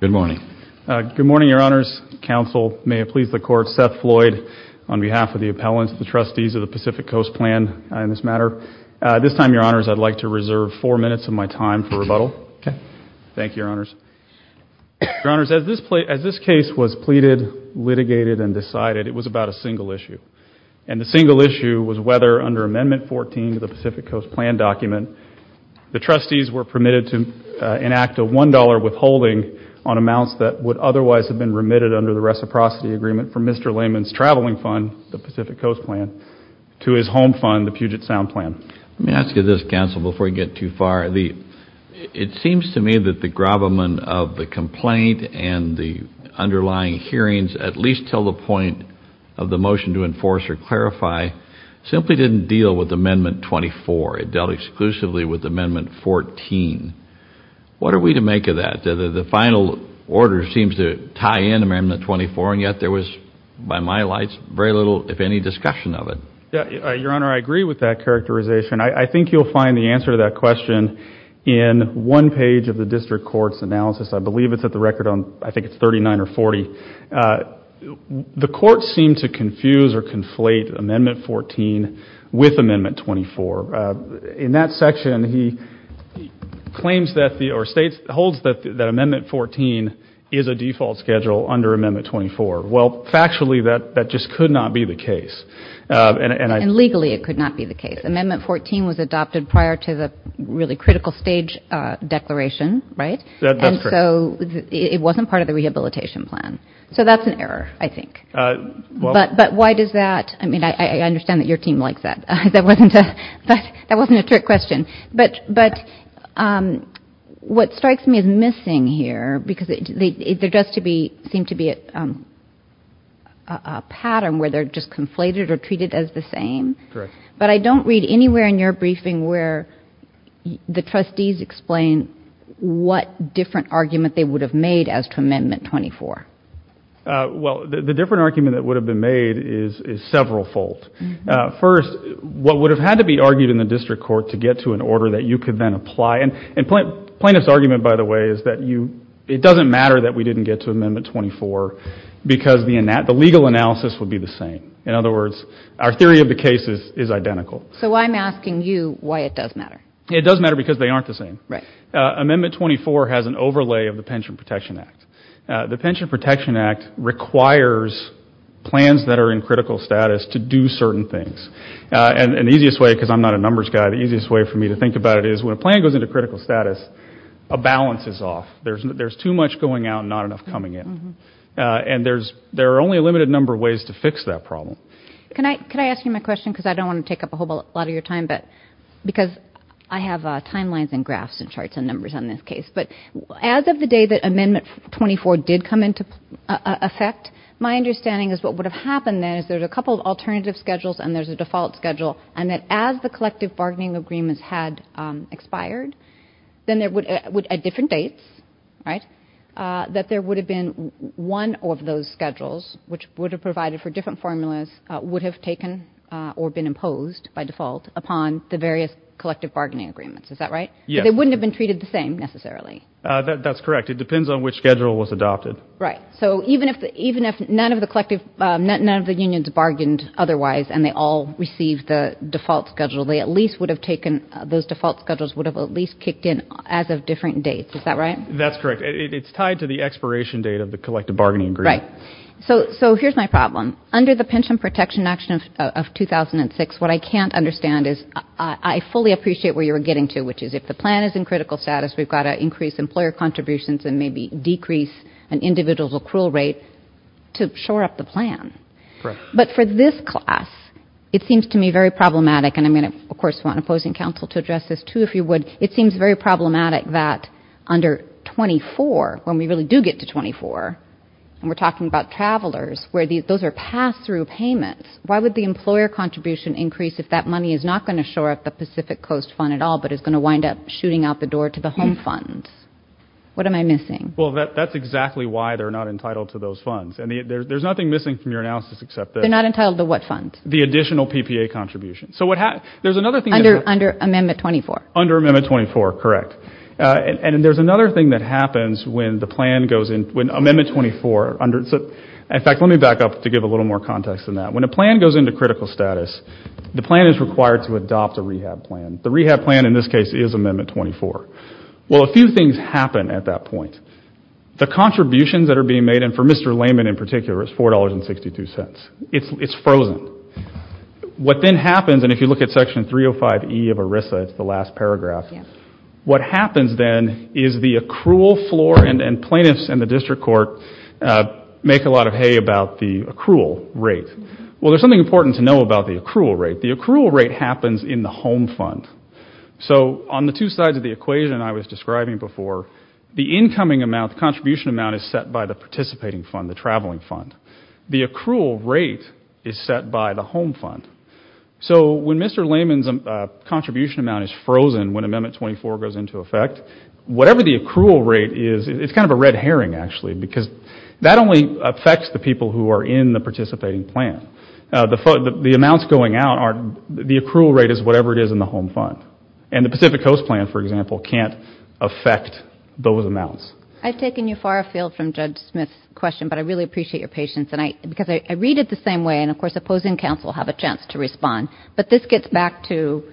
Good morning. Good morning, Your Honors. Counsel, may it please the Court, Seth Floyd, on behalf of the appellants, the trustees of the Pacific Coast Plan in this matter. This time, Your Honors, I'd like to reserve four minutes of my time for rebuttal. Thank you, Your Honors. Your Honors, as this case was pleaded, litigated, and decided, it was about a single issue. And the single issue was whether, under Amendment 14 of the Pacific Coast Plan document, the trustees were permitted to enact a $1.00 withholding on amounts that would otherwise have been remitted under the reciprocity agreement from Mr. Lehman's traveling fund, the Pacific Coast Plan, to his home fund, the Puget Sound Plan. Let me ask you this, Counsel, before you get too far. It seems to me that the gravamen of the complaint and the underlying hearings, at least till the point of the motion to enforce or clarify, simply didn't deal with Amendment 24. It dealt exclusively with Amendment 14. What are we to make of that? The final order seems to tie in to Amendment 24, and yet there was, by my lights, very little, if any, discussion of it. Your Honor, I agree with that characterization. I think you'll find the answer to that question in one page of the District Court's analysis. I believe it's at the record on, I think it's 39 or 40. The Court seemed to confuse or conflate Amendment 14 with Amendment 24. In that section, he claims that, or states, holds that Amendment 14 is a default schedule under Amendment 24. Well, factually, that just could not be the case. And legally it could not be the case. Amendment 14 was adopted prior to the really critical stage declaration, right? That's correct. So it wasn't part of the rehabilitation plan. So that's an error, I think. But why does that? I mean, I understand that your team likes that. That wasn't a trick question. But what strikes me as missing here, because there does seem to be a pattern where they're just conflated or treated as the same. Correct. But I don't read anywhere in your briefing where the trustees explain what different argument they would have made as to Amendment 24. Well, the different argument that would have been made is several-fold. First, what would have had to be argued in the District Court to get to an order that you could then apply, and plaintiff's argument, by the way, is that it doesn't matter that we didn't get to Amendment 24 because the legal analysis would be the same. In other words, our theory of the case is identical. So I'm asking you why it does matter. It does matter because they aren't the same. Right. Amendment 24 has an overlay of the Pension Protection Act. The Pension Protection Act requires plans that are in critical status to do certain things. And the easiest way, because I'm not a numbers guy, the easiest way for me to think about it is when a plan goes into critical status, a balance is off. There's too much going out and not enough coming in. And there are only a limited number of ways to fix that problem. Can I ask you my question? Because I don't want to take up a whole lot of your time. Because I have timelines and graphs and charts and numbers on this case. But as of the day that Amendment 24 did come into effect, my understanding is what would have happened then is there's a couple of alternative schedules and there's a default schedule, and that as the collective bargaining agreements had expired, then at different dates, right, that there would have been one of those schedules, which would have provided for different formulas, would have taken or been imposed by default upon the various collective bargaining agreements. Is that right? Yes. But they wouldn't have been treated the same, necessarily. That's correct. It depends on which schedule was adopted. Right. So even if none of the unions bargained otherwise and they all received the default schedule, they at least would have taken those default schedules would have at least kicked in as of different dates. Is that right? That's correct. It's tied to the expiration date of the collective bargaining agreement. Right. So here's my problem. Under the Pension Protection Act of 2006, what I can't understand is I fully appreciate where you're getting to, which is if the plan is in critical status, we've got to increase employer contributions and maybe decrease an individual's accrual rate to shore up the plan. Correct. But for this class, it seems to me very problematic. And I'm going to, of course, want opposing counsel to address this, too, if you would. It seems very problematic that under 24, when we really do get to 24, and we're talking about travelers, where those are pass-through payments. Why would the employer contribution increase if that money is not going to shore up the Pacific Coast fund at all but is going to wind up shooting out the door to the home funds? What am I missing? Well, that's exactly why they're not entitled to those funds. And there's nothing missing from your analysis except that. They're not entitled to what funds? The additional PPA contributions. Under Amendment 24. Under Amendment 24, correct. And there's another thing that happens when the plan goes in, when Amendment 24, in fact, let me back up to give a little more context than that. When a plan goes into critical status, the plan is required to adopt a rehab plan. The rehab plan in this case is Amendment 24. Well, a few things happen at that point. The contributions that are being made, and for Mr. Layman in particular, is $4.62. It's frozen. What then happens, and if you look at Section 305E of ERISA, it's the last paragraph, what happens then is the accrual floor, and plaintiffs and the district court make a lot of hay about the accrual rate. Well, there's something important to know about the accrual rate. The accrual rate happens in the home fund. So on the two sides of the equation I was describing before, the incoming amount, the contribution amount, is set by the participating fund, the traveling fund. The accrual rate is set by the home fund. So when Mr. Layman's contribution amount is frozen when Amendment 24 goes into effect, whatever the accrual rate is, it's kind of a red herring, actually, because that only affects the people who are in the participating plan. The amounts going out, the accrual rate is whatever it is in the home fund, and the Pacific Coast plan, for example, can't affect those amounts. I've taken you far afield from Judge Smith's question, but I really appreciate your patience, because I read it the same way, and of course opposing counsel have a chance to respond, but this gets back to,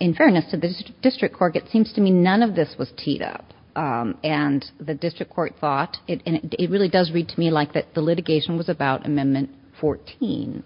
in fairness to the district court, it seems to me none of this was teed up, and the district court thought, and it really does read to me like the litigation was about Amendment 14,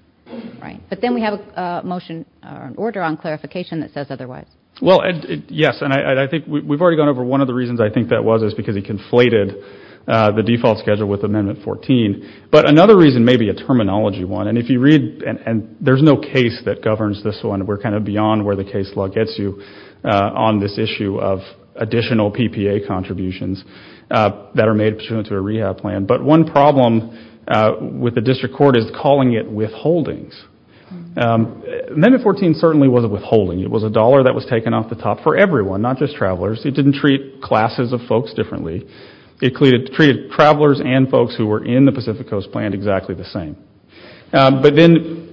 right? But then we have a motion, or an order on clarification that says otherwise. Well, yes, and I think we've already gone over one of the reasons I think that was is because he conflated the default schedule with Amendment 14, but another reason may be a terminology one, and if you read, and there's no case that governs this one, we're kind of beyond where the case law gets you on this issue of additional PPA contributions that are made pursuant to a rehab plan, but one problem with the district court is calling it withholdings. Amendment 14 certainly wasn't withholding. It was a dollar that was taken off the top for everyone, not just travelers. It didn't treat classes of folks differently. It treated travelers and folks who were in the Pacific Coast plan exactly the same. But then,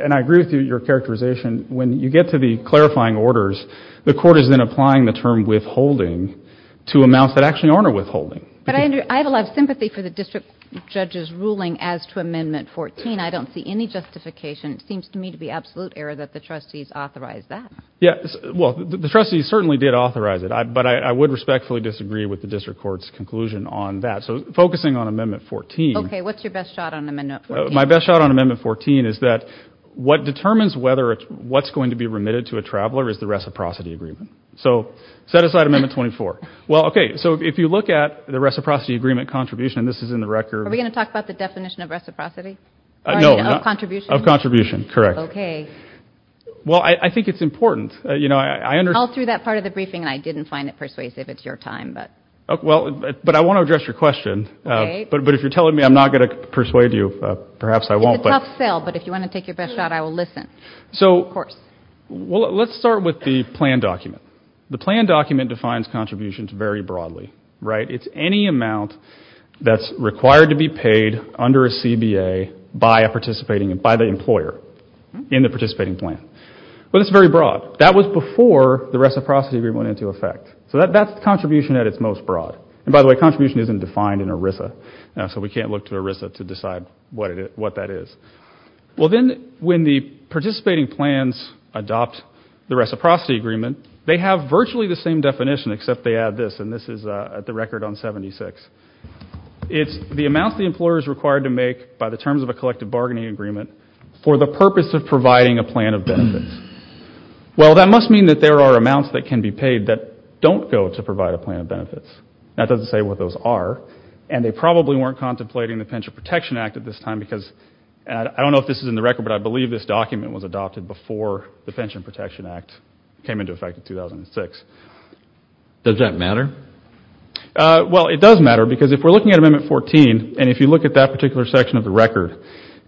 and I agree with your characterization, when you get to the clarifying orders, the But, Andrew, I have a lot of sympathy for the district judge's ruling as to Amendment 14. I don't see any justification. It seems to me to be absolute error that the trustees authorized that. Yeah, well, the trustees certainly did authorize it, but I would respectfully disagree with the district court's conclusion on that. So focusing on Amendment 14. Okay, what's your best shot on Amendment 14? My best shot on Amendment 14 is that what determines whether what's going to be remitted to a traveler is the reciprocity agreement. So set aside Amendment 24. Well, okay, so if you look at the reciprocity agreement contribution, and this is in the record. Are we going to talk about the definition of reciprocity? No. Of contribution? Of contribution, correct. Okay. Well, I think it's important. You know, I understand. All through that part of the briefing, I didn't find it persuasive. It's your time, but. Well, but I want to address your question. Okay. But if you're telling me, I'm not going to persuade you. Perhaps I won't, but. It's a tough sell, but if you want to take your best shot, I will listen, of course. So, well, let's start with the plan document. The plan document defines contributions very broadly, right? It's any amount that's required to be paid under a CBA by a participating, by the employer in the participating plan. But it's very broad. That was before the reciprocity agreement went into effect. So that's contribution at its most broad. And by the way, contribution isn't defined in ERISA, so we can't look to ERISA to decide what that is. Well, then, when the participating plans adopt the reciprocity agreement, they have virtually the same definition, except they add this, and this is at the record on 76. It's the amount the employer is required to make by the terms of a collective bargaining agreement for the purpose of providing a plan of benefits. Well, that must mean that there are amounts that can be paid that don't go to provide a plan of benefits. That doesn't say what those are, and they probably weren't contemplating the Pension Protection Act at this time, because I don't know if this is in the record, but I believe this document was adopted before the Pension Protection Act came into effect in 2006. Does that matter? Well, it does matter, because if we're looking at Amendment 14, and if you look at that particular section of the record,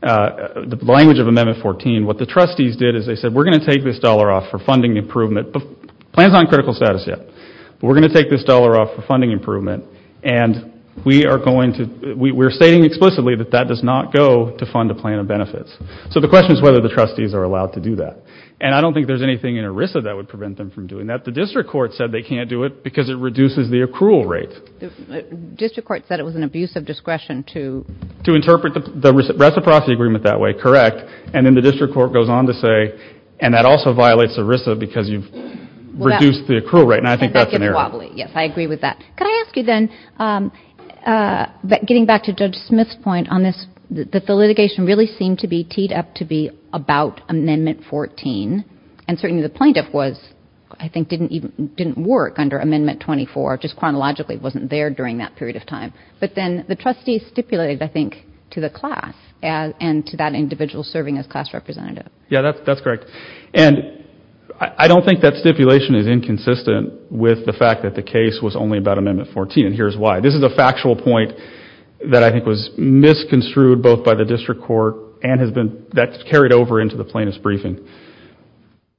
the language of Amendment 14, what the trustees did is they said, we're going to take this dollar off for funding improvement. The plan's not in critical status yet, but we're going to take this dollar off for funding not go to fund a plan of benefits. So the question is whether the trustees are allowed to do that, and I don't think there's anything in ERISA that would prevent them from doing that. The district court said they can't do it because it reduces the accrual rate. The district court said it was an abuse of discretion to... To interpret the reciprocity agreement that way, correct, and then the district court goes on to say, and that also violates ERISA because you've reduced the accrual rate, and I think that's an error. Yes, I agree with that. Could I ask you then, getting back to Judge Smith's point on this, that the litigation really seemed to be teed up to be about Amendment 14, and certainly the plaintiff was, I think, didn't work under Amendment 24, just chronologically wasn't there during that period of time, but then the trustees stipulated, I think, to the class and to that individual serving as class representative. Yeah, that's correct, and I don't think that stipulation is inconsistent with the fact that the case was only about Amendment 14, and here's why. This is a factual point that I think was misconstrued both by the district court and has been... That's carried over into the plaintiff's briefing.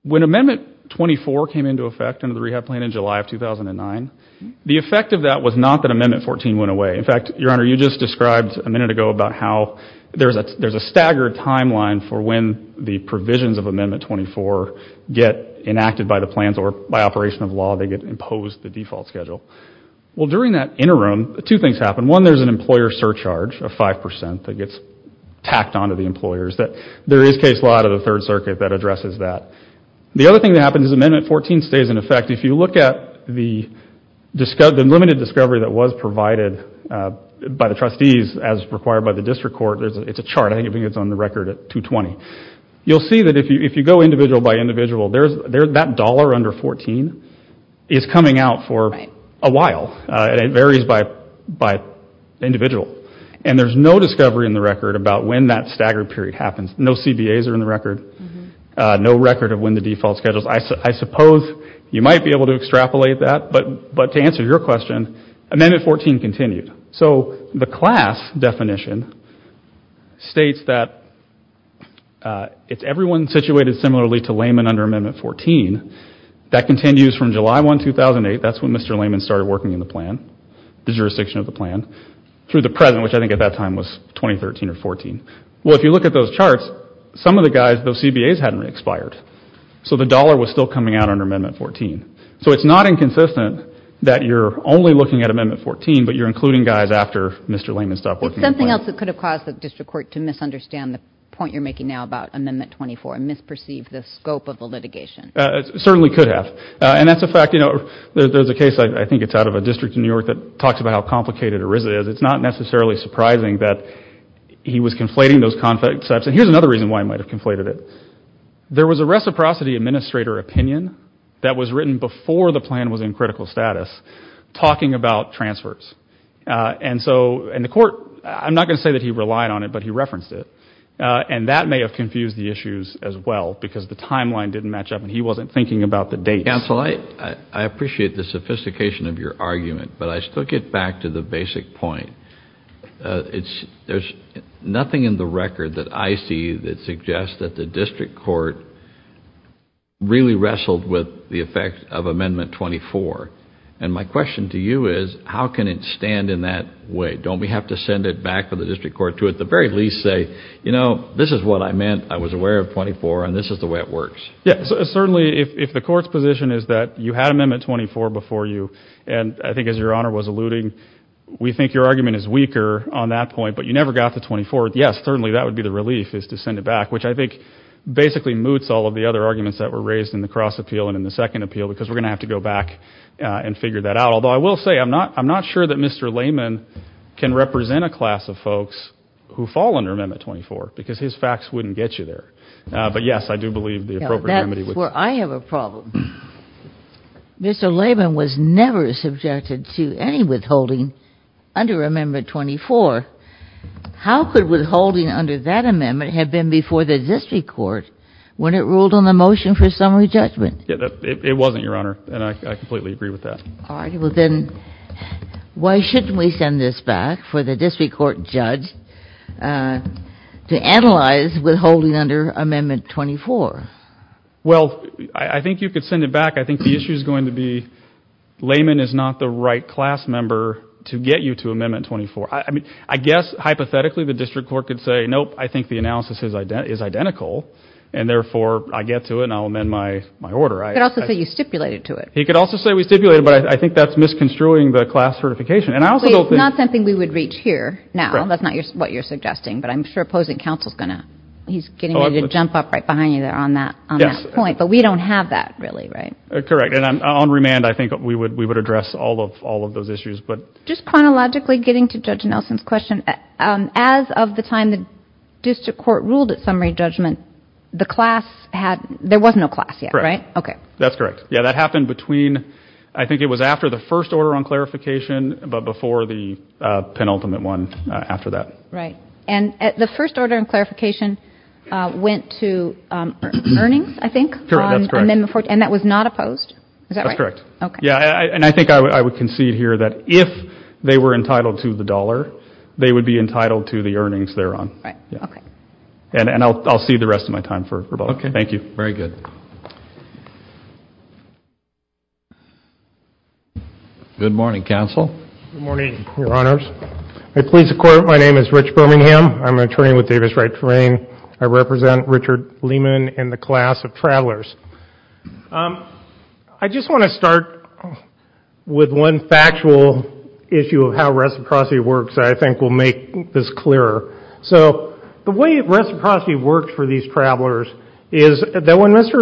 When Amendment 24 came into effect under the rehab plan in July of 2009, the effect of that was not that Amendment 14 went away. In fact, Your Honor, you just described a minute ago about how there's a staggered timeline for when the provisions of Amendment 24 get enacted by the plans or by operation of law, they get imposed the default schedule. Well, during that interim, two things happen. One, there's an employer surcharge of 5% that gets tacked onto the employers. There is case law out of the Third Circuit that addresses that. The other thing that happens is Amendment 14 stays in effect. If you look at the limited discovery that was provided by the trustees as required by the district court, it's a chart. I think it's on the record at 220. You'll see that if you go individual by individual, that dollar under 14 is coming out for a while. It varies by individual. And there's no discovery in the record about when that staggered period happens. No CBAs are in the record. No record of when the default schedule is. I suppose you might be able to extrapolate that. But to answer your question, Amendment 14 continued. So the class definition states that it's everyone situated similarly to Layman under Amendment 14. That continues from July 1, 2008. That's when Mr. Layman started working in the plan, the jurisdiction of the plan, through the present, which I think at that time was 2013 or 14. Well, if you look at those charts, some of the guys, those CBAs hadn't expired. So the dollar was still coming out under Amendment 14. So it's not inconsistent that you're only looking at Amendment 14, but you're including guys after Mr. Layman stopped working in the plan. It's something else that could have caused the district court to misunderstand the point you're making now about Amendment 24 and misperceive the scope of the litigation. It certainly could have. And that's a fact. You know, there's a case, I think it's out of a district in New York, that talks about how complicated ERISA is. It's not necessarily surprising that he was conflating those concepts. And here's another reason why he might have conflated it. There was a reciprocity administrator opinion that was written before the plan was in critical status talking about transfers. And so in the court, I'm not going to say that he relied on it, but he referenced it. And that may have confused the issues as well because the timeline didn't match up and he wasn't thinking about the dates. Counsel, I appreciate the sophistication of your argument, but I still get back to the basic point. There's nothing in the record that I see that suggests that the district court really wrestled with the effect of Amendment 24. And my question to you is, how can it stand in that way? Don't we have to send it back to the district court to at the very least say, you know, this is what I meant. I was aware of 24 and this is the way it works. Yes, certainly if the court's position is that you had Amendment 24 before you, and I think as your honor was alluding, we think your argument is weaker on that point, but you never got to 24. Yes, certainly that would be the relief is to send it back, which I think basically moots all of the other arguments that were raised in the cross appeal and in the second appeal because we're going to have to go back and figure that out. Although I will say I'm not I'm not sure that Mr. Layman can represent a class of folks who fall under Amendment 24 because his facts wouldn't get you there. But yes, I do believe the appropriate remedy. I have a problem. Mr. Layman was never subjected to any withholding under Amendment 24. How could withholding under that amendment have been before the district court when it ruled on the motion for summary judgment? It wasn't your honor. And I completely agree with that. All right. Well, then why shouldn't we send this back for the district court judge to analyze withholding under Amendment 24? Well, I think you could send it back. I think the issue is going to be layman is not the right class member to get you to Amendment 24. I mean, I guess hypothetically, the district court could say, nope, I think the analysis is identical and therefore I get to it. And I'll amend my my order. I could also say you stipulated to it. He could also say we stipulated. But I think that's misconstruing the class certification. And I was not something we would reach here. Now, that's not what you're suggesting. But I'm sure opposing counsel is going to he's getting ready to jump up right behind you there on that point. But we don't have that really. Right. Correct. And I'm on remand. I think we would we would address all of all of those issues. But just chronologically, getting to Judge Nelson's question, as of the time the district court ruled at summary judgment, the class had there was no class yet. Right. OK, that's correct. Yeah, that happened between. I think it was after the first order on clarification, but before the penultimate one after that. Right. And at the first order and clarification went to earnings, I think. That's correct. And that was not opposed. That's correct. OK. Yeah. And I think I would concede here that if they were entitled to the dollar, they would be entitled to the earnings there on. Right. OK. And I'll see the rest of my time for. OK. Thank you. Very good. Good morning, counsel. Good morning, Your Honors. I please, of course, my name is Rich Birmingham. I'm an attorney with Davis Right Terrain. I represent Richard Lehman and the class of travelers. I just want to start with one factual issue of how reciprocity works. I think we'll make this clearer. So the way reciprocity works for these travelers is that when Mr.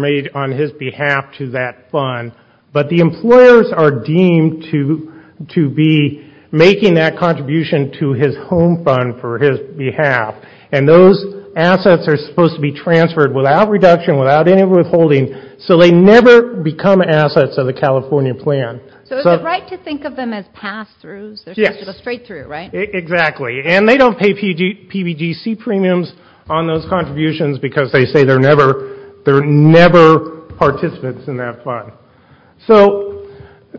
made on his behalf to that fund, but the employers are deemed to to be making that contribution to his home fund for his behalf. And those assets are supposed to be transferred without reduction, without any withholding. So they never become assets of the California plan. So it's right to think of them as pass through. Yes, straight through. Right. Exactly. And they don't pay PG PGC premiums on those contributions because they say they're never they're never participants in that fund. So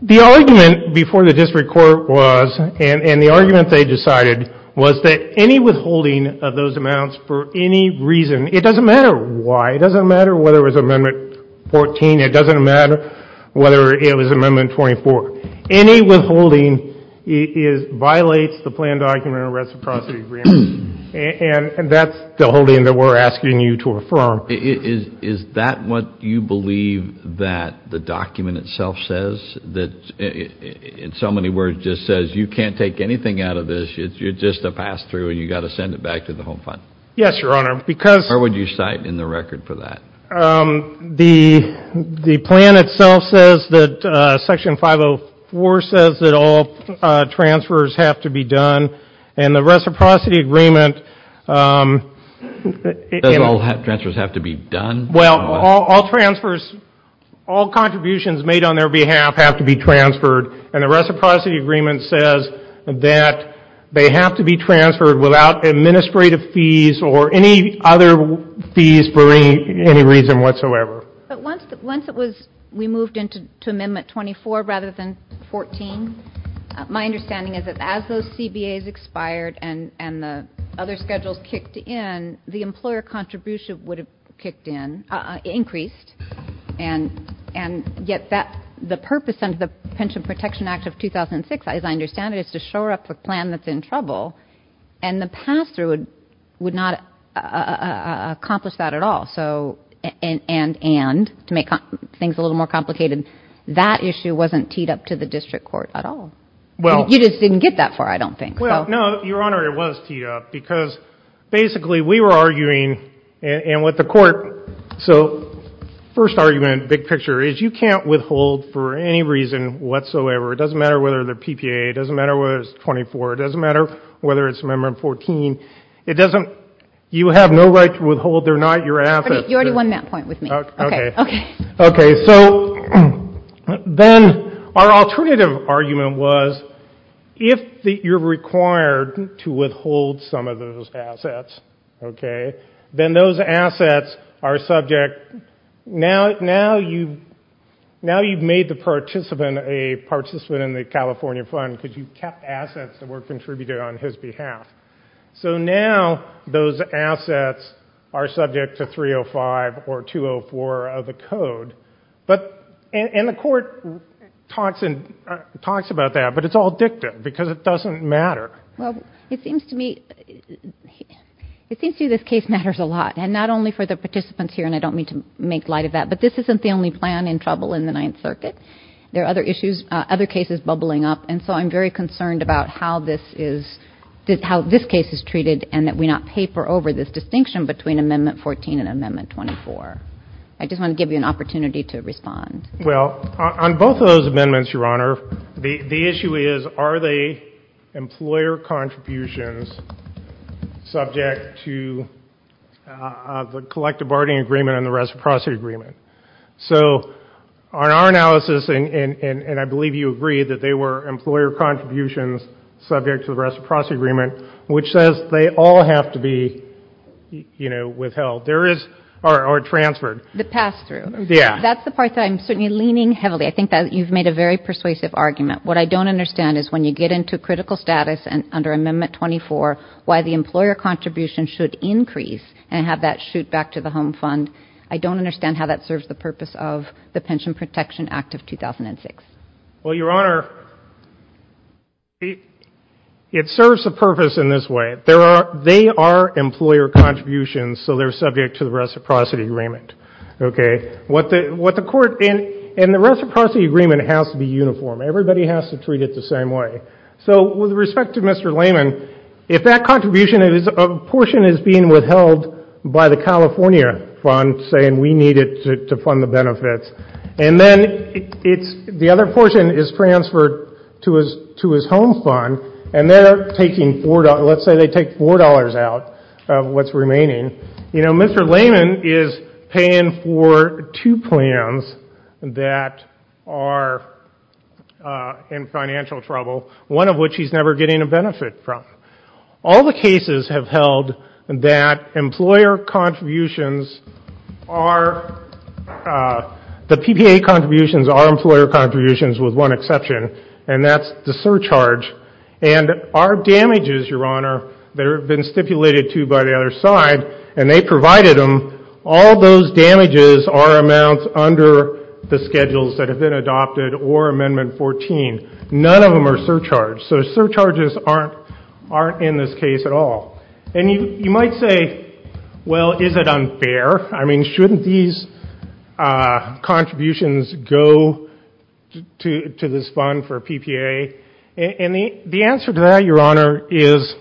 the argument before the district court was and the argument they decided was that any withholding of those amounts for any reason, it doesn't matter why. It doesn't matter whether it was Amendment 14. It doesn't matter whether it was Amendment 24. Any withholding is violates the plan document reciprocity. And that's the holding that we're asking you to affirm. Is that what you believe that the document itself says that in so many words just says you can't take anything out of this. It's just a pass through and you've got to send it back to the home fund. Yes, Your Honor, because. Or would you cite in the record for that? The the plan itself says that Section 504 says that all transfers have to be done. And the reciprocity agreement transfers have to be done. Well, all transfers, all contributions made on their behalf have to be transferred. And the reciprocity agreement says that they have to be transferred without administrative fees or any other fees for any reason whatsoever. But once once it was we moved into to Amendment 24 rather than 14. My understanding is that as those CBAs expired and and the other schedules kicked in, the employer contribution would have kicked in increased. And and yet that the purpose of the Pension Protection Act of 2006, as I understand it, is to shore up a plan that's in trouble. And the password would not accomplish that at all. So and and and to make things a little more complicated. That issue wasn't teed up to the district court at all. Well, you just didn't get that far. I don't think so. No, Your Honor, it was teed up because basically we were arguing and with the court. So first argument, big picture is you can't withhold for any reason whatsoever. It doesn't matter whether they're PPA. It doesn't matter whether it's 24. It doesn't matter whether it's Amendment 14. It doesn't. You have no right to withhold. They're not your assets. You already won that point with me. OK. OK. So then our alternative argument was if you're required to withhold some of those assets, OK, then those assets are subject. Now you've made the participant a participant in the California fund because you kept assets that were contributed on his behalf. So now those assets are subject to 305 or 204 of the code. And the court talks about that, but it's all dicta because it doesn't matter. Well, it seems to me this case matters a lot, and not only for the participants here, and I don't mean to make light of that, but this isn't the only plan in trouble in the Ninth Circuit. There are other issues, other cases bubbling up. And so I'm very concerned about how this case is treated and that we not paper over this distinction between Amendment 14 and Amendment 24. I just want to give you an opportunity to respond. Well, on both of those amendments, Your Honor, the issue is are they employer contributions subject to the collective bargaining agreement and the reciprocity agreement? So on our analysis, and I believe you agree that they were employer contributions subject to the reciprocity agreement, which says they all have to be, you know, withheld or transferred. The pass-through. Yeah. That's the part that I'm certainly leaning heavily. I think that you've made a very persuasive argument. What I don't understand is when you get into critical status under Amendment 24, why the employer contribution should increase and have that shoot back to the home fund. I don't understand how that serves the purpose of the Pension Protection Act of 2006. Well, Your Honor, it serves a purpose in this way. They are employer contributions, so they're subject to the reciprocity agreement. Okay. What the court in the reciprocity agreement has to be uniform. Everybody has to treat it the same way. So with respect to Mr. Lehman, if that contribution is a portion is being withheld by the California fund saying we need it to fund the benefits, and then the other portion is transferred to his home fund, and they're taking $4. Let's say they take $4 out of what's remaining. You know, Mr. Lehman is paying for two plans that are in financial trouble, one of which he's never getting a benefit from. All the cases have held that employer contributions are, the PPA contributions are employer contributions with one exception, and that's the surcharge. And our damages, Your Honor, that have been stipulated to by the other side, and they provided them, all those damages are amounts under the schedules that have been adopted or Amendment 14. None of them are surcharge. So surcharges aren't in this case at all. And you might say, well, is it unfair? I mean, shouldn't these contributions go to this fund for PPA? And the answer to that, Your Honor, is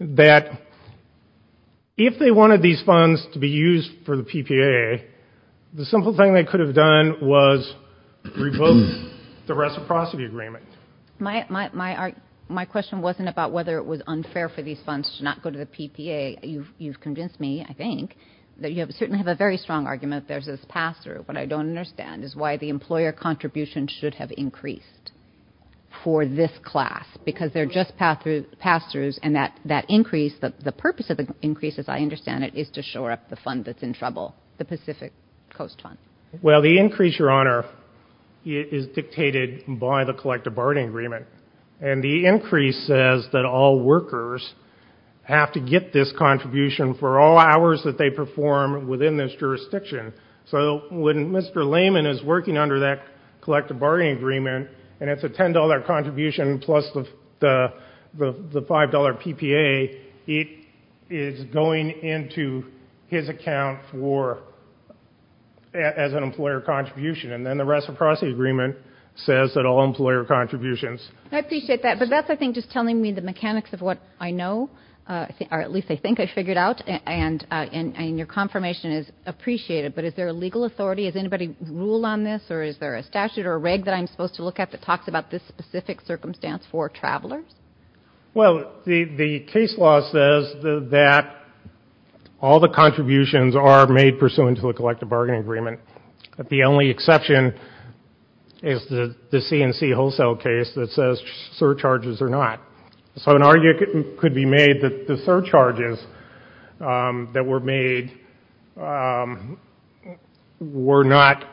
that if they wanted these funds to be used for the PPA, the simple thing they could have done was revoke the reciprocity agreement. My question wasn't about whether it was unfair for these funds to not go to the PPA. You've convinced me, I think, that you certainly have a very strong argument that there's this pass-through. What I don't understand is why the employer contribution should have increased for this class, because they're just pass-throughs, and that increase, the purpose of the increase, as I understand it, is to shore up the fund that's in trouble. The Pacific Coast Fund. Well, the increase, Your Honor, is dictated by the collective bargaining agreement. And the increase says that all workers have to get this contribution for all hours that they perform within this jurisdiction. So when Mr. Lehman is working under that collective bargaining agreement, and it's a $10 contribution plus the $5 PPA, it is going into his account as an employer contribution. And then the reciprocity agreement says that all employer contributions. I appreciate that. But that's, I think, just telling me the mechanics of what I know, or at least I think I figured out. And your confirmation is appreciated. But is there a legal authority? Does anybody rule on this? Or is there a statute or a reg that I'm supposed to look at that talks about this specific circumstance for travelers? Well, the case law says that all the contributions are made pursuant to a collective bargaining agreement. The only exception is the C&C wholesale case that says surcharges are not. So an argument could be made that the surcharges that were made were not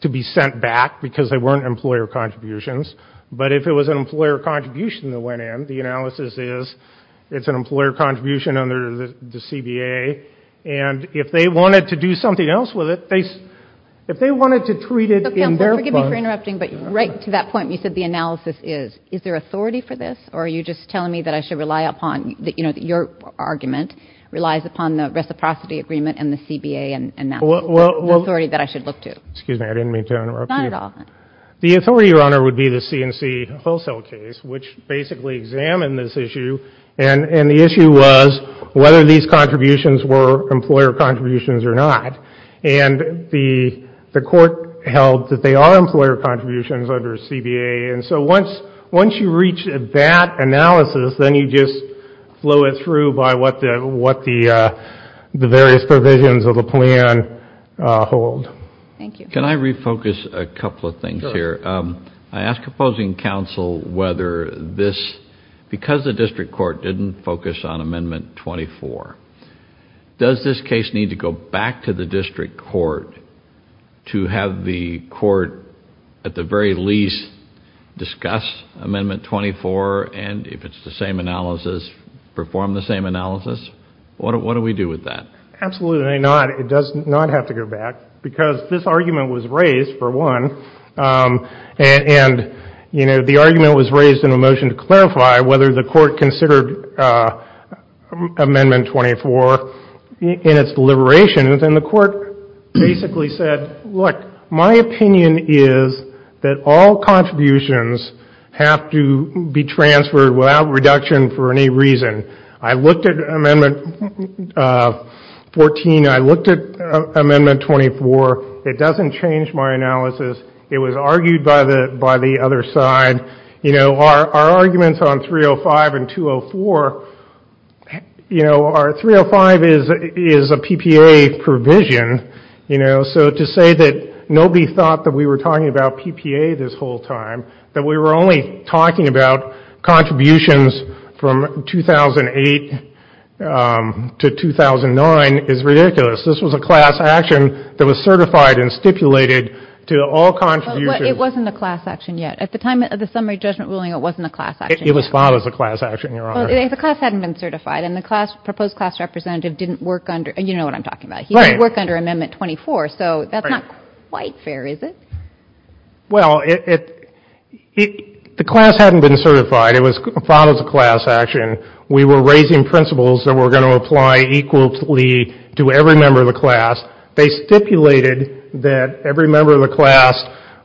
to be sent back because they weren't employer contributions. But if it was an employer contribution that went in, the analysis is it's an employer contribution under the CBA. And if they wanted to do something else with it, if they wanted to treat it in their part. Forgive me for interrupting. But right to that point, you said the analysis is. Is there authority for this? Or are you just telling me that I should rely upon, you know, your argument relies upon the reciprocity agreement and the CBA and the authority that I should look to? Excuse me. I didn't mean to interrupt you. Not at all. The authority, Your Honor, would be the C&C wholesale case, which basically examined this issue. And the issue was whether these contributions were employer contributions or not. And the court held that they are employer contributions under CBA. And so once you reach that analysis, then you just flow it through by what the various provisions of the plan hold. Thank you. Can I refocus a couple of things here? Sure. I ask opposing counsel whether this, because the district court didn't focus on Amendment 24, does this case need to go back to the district court to have the court at the very least discuss Amendment 24 and, if it's the same analysis, perform the same analysis? What do we do with that? Absolutely not. It does not have to go back because this argument was raised, for one. And, you know, the argument was raised in a motion to clarify whether the court considered Amendment 24 in its deliberations. And the court basically said, look, my opinion is that all contributions have to be transferred without reduction for any reason. I looked at Amendment 14. I looked at Amendment 24. It doesn't change my analysis. It was argued by the other side. You know, our arguments on 305 and 204, you know, our 305 is a PPA provision. You know, so to say that nobody thought that we were talking about PPA this whole time, that we were only talking about contributions from 2008 to 2009, is ridiculous. This was a class action that was certified and stipulated to all contributions. But it wasn't a class action yet. At the time of the summary judgment ruling, it wasn't a class action yet. It was filed as a class action, Your Honor. Well, the class hadn't been certified, and the proposed class representative didn't work under — you know what I'm talking about. Right. He didn't work under Amendment 24, so that's not quite fair, is it? Well, the class hadn't been certified. It was filed as a class action. We were raising principles that were going to apply equally to every member of the class. They stipulated that every member of the class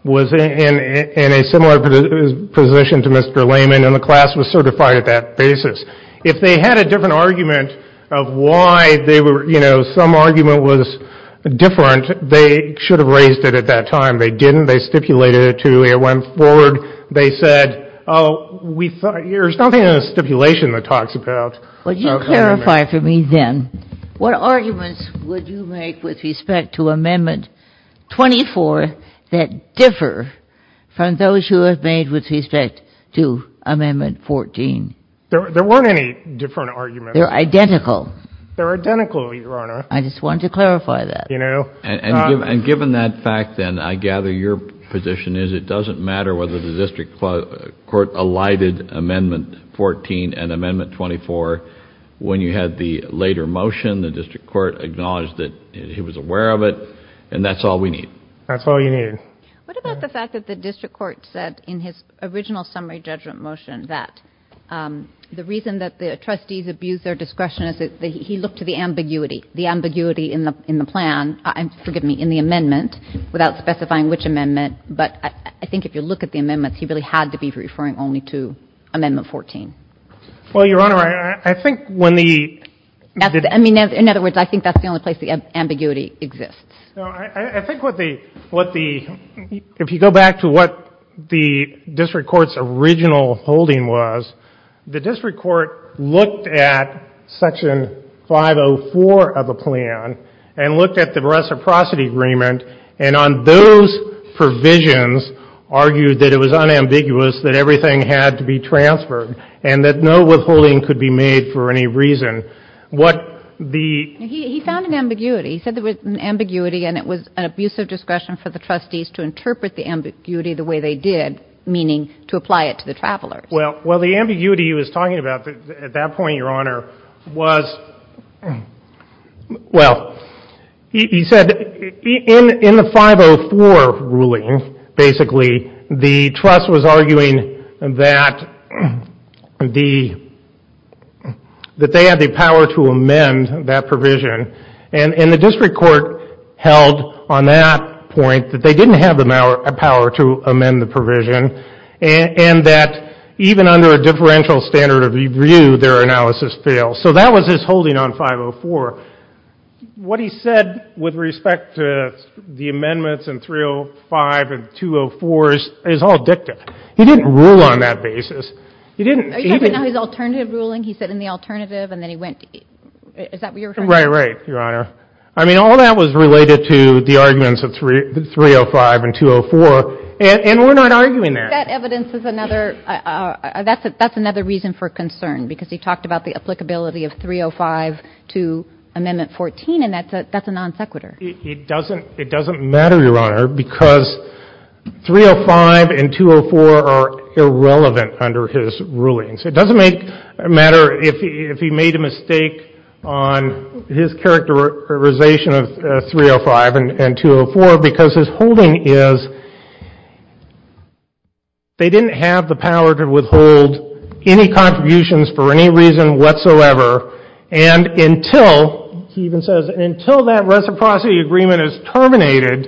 was in a similar position to Mr. Lehman, and the class was certified at that basis. If they had a different argument of why they were — you know, some argument was different, they should have raised it at that time. They didn't. They stipulated it to — it went forward. They said, oh, we thought — there's nothing in the stipulation that talks about — Would you clarify for me, then, what arguments would you make with respect to Amendment 24 that differ from those you have made with respect to Amendment 14? There weren't any different arguments. They're identical. They're identical, Your Honor. I just wanted to clarify that. You know — And given that fact, then, I gather your position is it doesn't matter whether the district court alighted Amendment 14 and Amendment 24. When you had the later motion, the district court acknowledged that he was aware of it, and that's all we need. That's all you needed. What about the fact that the district court said in his original summary judgment motion that the reason that the trustees abused their discretion is that he looked to the ambiguity, the ambiguity in the plan — forgive me, in the amendment, without specifying which amendment. But I think if you look at the amendments, he really had to be referring only to Amendment 14. Well, Your Honor, I think when the — I mean, in other words, I think that's the only place the ambiguity exists. No. I think what the — if you go back to what the district court's original holding was, the district court looked at Section 504 of the plan and looked at the reciprocity agreement, and on those provisions argued that it was unambiguous that everything had to be transferred and that no withholding could be made for any reason. What the — He found an ambiguity. He said there was an ambiguity, and it was an abuse of discretion for the trustees to interpret the ambiguity the way they did, meaning to apply it to the travelers. Well, the ambiguity he was talking about at that point, Your Honor, was — well, he said in the 504 ruling, basically, the trust was arguing that the — that they had the power to amend that provision, and the district court held on that point that they didn't have the power to amend the provision and that even under a differential standard of review, their analysis failed. So that was his holding on 504. What he said with respect to the amendments in 305 and 204 is all dictative. He didn't rule on that basis. He didn't even — Are you talking about his alternative ruling? He said in the alternative, and then he went — is that what you're referring to? Right, right, Your Honor. I mean, all that was related to the arguments of 305 and 204, and we're not arguing that. That evidence is another — that's another reason for concern because he talked about the applicability of 305 to Amendment 14, and that's a non sequitur. It doesn't matter, Your Honor, because 305 and 204 are irrelevant under his rulings. It doesn't make — matter if he made a mistake on his characterization of 305 and 204 because his holding is they didn't have the power to withhold any contributions for any reason whatsoever, and until — he even says until that reciprocity agreement is terminated,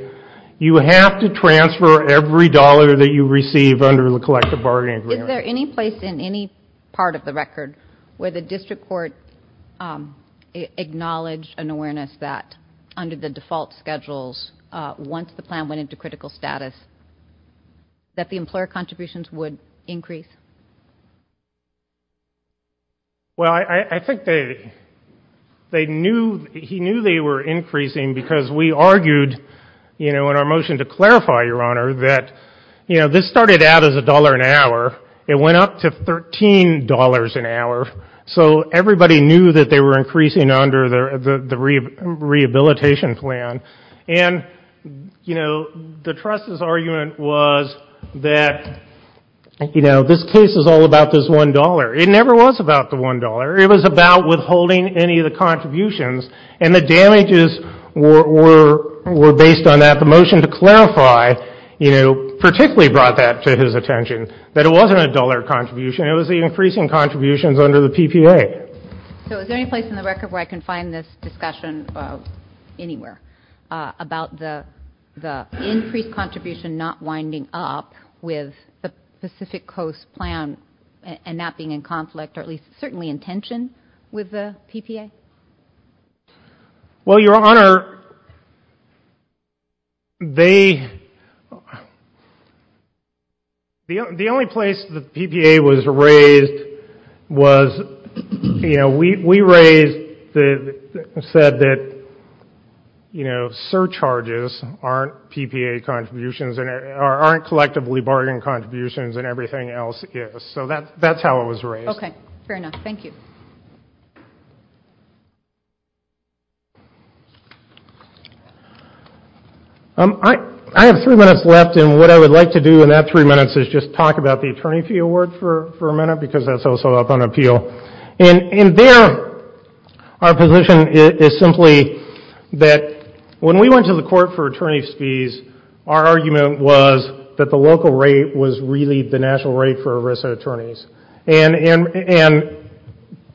you have to transfer every dollar that you receive under the collective bargaining agreement. Is there any place in any part of the record where the district court acknowledged an awareness that under the default schedules, once the plan went into critical status, that the employer contributions would increase? Well, I think they knew — he knew they were increasing because we argued, you know, in our motion to clarify, Your Honor, that, you know, this started out as a dollar an hour. It went up to $13 an hour. So everybody knew that they were increasing under the rehabilitation plan. And, you know, the trust's argument was that, you know, this case is all about this $1. It never was about the $1. It was about withholding any of the contributions, and the damages were based on that. The motion to clarify, you know, particularly brought that to his attention, that it wasn't a dollar contribution. It was the increasing contributions under the PPA. So is there any place in the record where I can find this discussion anywhere about the increased contribution not winding up with the Pacific Coast plan and that being in conflict or at least certainly in tension with the PPA? Well, Your Honor, they — the only place the PPA was raised was, you know, we raised — said that, you know, surcharges aren't PPA contributions or aren't collectively bargain contributions and everything else is. So that's how it was raised. Okay. Fair enough. Thank you. I have three minutes left, and what I would like to do in that three minutes is just talk about the attorney fee award for a minute because that's also up on appeal. And there our position is simply that when we went to the court for attorney's fees, our argument was that the local rate was really the national rate for Arisa attorneys. And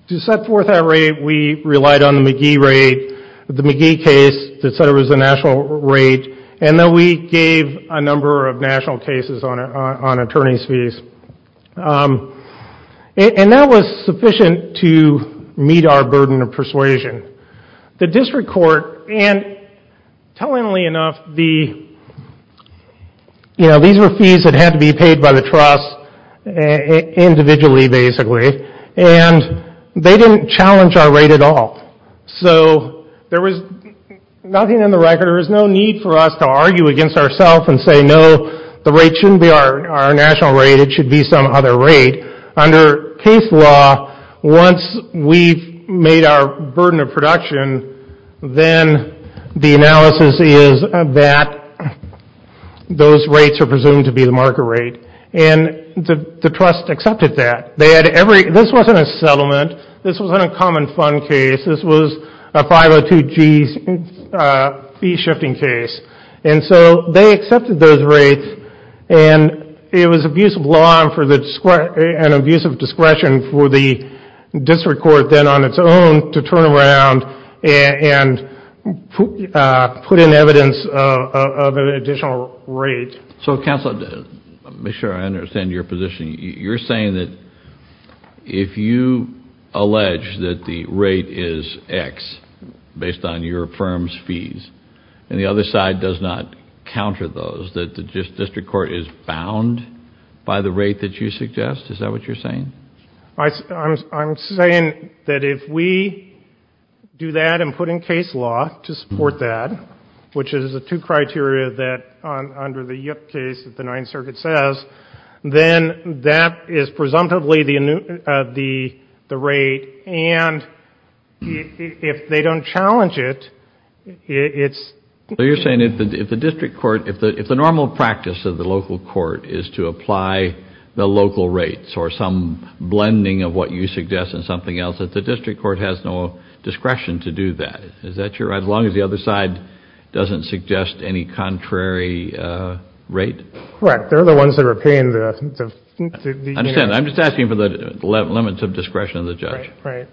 to set forth that rate, we relied on the McGee rate, the McGee case that said it was the national rate, and then we gave a number of national cases on attorney's fees. And that was sufficient to meet our burden of persuasion. The district court — and tellingly enough, the — you know, these were fees that had to be paid by the trust individually, basically, and they didn't challenge our rate at all. So there was nothing on the record. There was no need for us to argue against ourselves and say, no, the rate shouldn't be our national rate. It should be some other rate. Under case law, once we've made our burden of production, then the analysis is that those rates are presumed to be the market rate. And the trust accepted that. They had every — this wasn't a settlement. This wasn't a common fund case. This was a 502G fee-shifting case. And so they accepted those rates. And it was abuse of law and abuse of discretion for the district court, then, on its own, to turn around and put in evidence of an additional rate. So, counsel, to make sure I understand your position, you're saying that if you allege that the rate is X, based on your firm's fees, and the other side does not counter those, that the district court is bound by the rate that you suggest? Is that what you're saying? I'm saying that if we do that and put in case law to support that, which is a two-criteria that, under the Yip case that the Ninth Circuit says, then that is presumptively the rate. And if they don't challenge it, it's — So you're saying if the district court — if the normal practice of the local court is to apply the local rates or some blending of what you suggest and something else, that the district court has no discretion to do that? Is that your — as long as the other side doesn't suggest any contrary rate? Right. They're the ones that are paying the — I understand. I'm just asking for the limits of discretion of the judge. Right.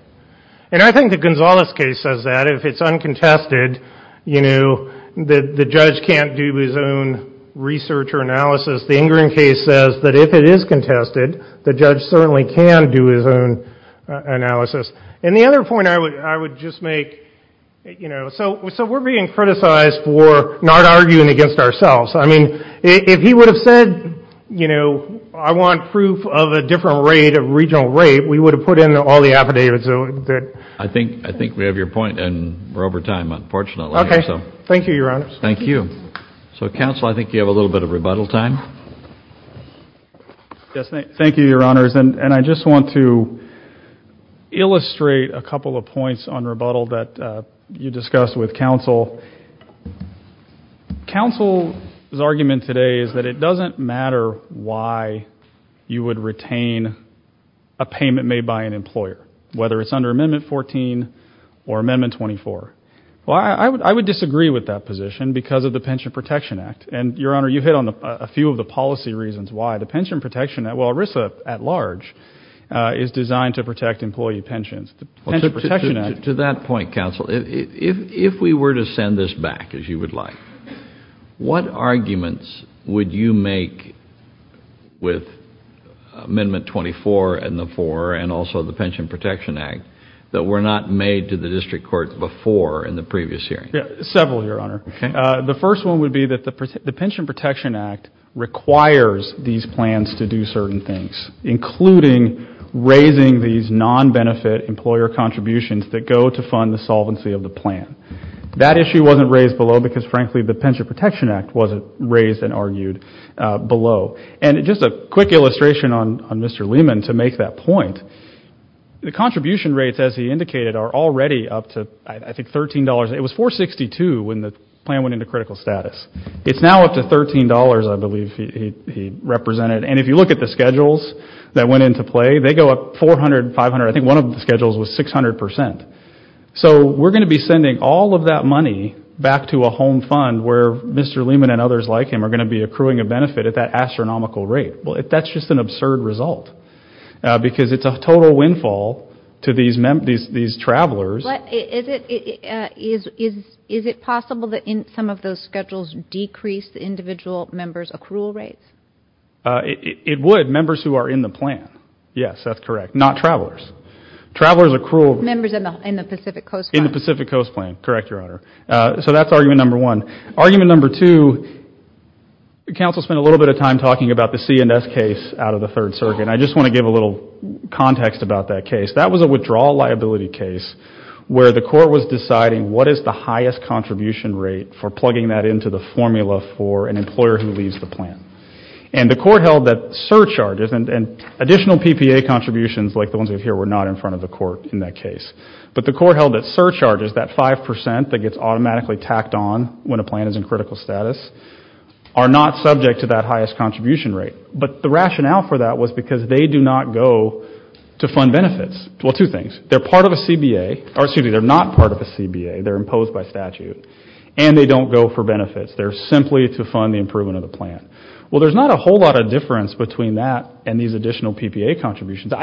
And I think the Gonzales case says that. If it's uncontested, you know, the judge can't do his own research or analysis. The Ingram case says that if it is contested, the judge certainly can do his own analysis. And the other point I would just make — you know, so we're being criticized for not arguing against ourselves. I mean, if he would have said, you know, I want proof of a different rate, a regional rate, we would have put in all the affidavits that — I think we have your point, and we're over time, unfortunately. Okay. Thank you, Your Honors. Thank you. So, Counsel, I think you have a little bit of rebuttal time. Yes. Thank you, Your Honors. And I just want to illustrate a couple of points on rebuttal that you discussed with Counsel. Counsel's argument today is that it doesn't matter why you would retain a payment made by an employer, whether it's under Amendment 14 or Amendment 24. Well, I would disagree with that position because of the Pension Protection Act. And, Your Honor, you hit on a few of the policy reasons why. The Pension Protection Act — well, ERISA at large is designed to protect employee pensions. To that point, Counsel, if we were to send this back, as you would like, what arguments would you make with Amendment 24 and the 4 and also the Pension Protection Act that were not made to the District Court before in the previous hearing? Several, Your Honor. Okay. The first one would be that the Pension Protection Act requires these plans to do certain things, including raising these non-benefit employer contributions that go to fund the solvency of the plan. That issue wasn't raised below because, frankly, the Pension Protection Act wasn't raised and argued below. And just a quick illustration on Mr. Lehman to make that point, the contribution rates, as he indicated, are already up to, I think, $13. It was $4.62 when the plan went into critical status. It's now up to $13, I believe he represented. And if you look at the schedules that went into play, they go up 400, 500. I think one of the schedules was 600%. So we're going to be sending all of that money back to a home fund where Mr. Lehman and others like him are going to be accruing a benefit at that astronomical rate. That's just an absurd result because it's a total windfall to these travelers. Is it possible that some of those schedules decrease the individual members' accrual rates? It would, members who are in the plan. Yes, that's correct. Not travelers. Travelers accrual. Members in the Pacific Coast plan. In the Pacific Coast plan. Correct, Your Honor. So that's argument number one. Argument number two, the Council spent a little bit of time talking about the CNS case out of the Third Circuit. And I just want to give a little context about that case. That was a withdrawal liability case where the court was deciding what is the highest contribution rate for plugging that into the formula for an employer who leaves the plan. And the court held that surcharges and additional PPA contributions like the ones we have here were not in front of the court in that case. But the court held that surcharges, that 5% that gets automatically tacked on when a plan is in critical status, are not subject to that highest contribution rate. But the rationale for that was because they do not go to fund benefits. Well, two things. They're part of a CBA, or excuse me, they're not part of a CBA. They're imposed by statute. And they don't go for benefits. They're simply to fund the improvement of the plan. Well, there's not a whole lot of difference between that and these additional PPA contributions.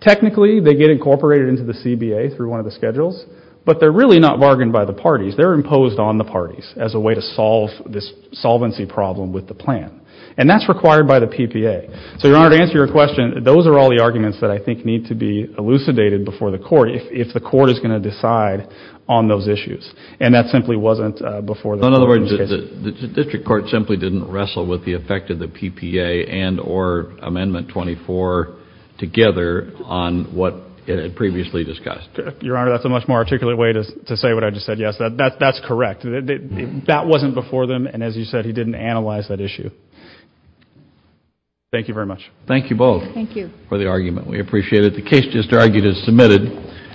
Technically, they get incorporated into the CBA through one of the schedules. But they're really not bargained by the parties. They're imposed on the parties as a way to solve this solvency problem with the plan. And that's required by the PPA. So, Your Honor, to answer your question, those are all the arguments that I think need to be elucidated before the court if the court is going to decide on those issues. And that simply wasn't before the court in those cases. In other words, the district court simply didn't wrestle with the effect of the PPA and or Amendment 24 together on what it had previously discussed. Your Honor, that's a much more articulate way to say what I just said, yes. That's correct. That wasn't before them. And as you said, he didn't analyze that issue. Thank you very much. Thank you both. Thank you. For the argument. We appreciate it. The case just argued is submitted.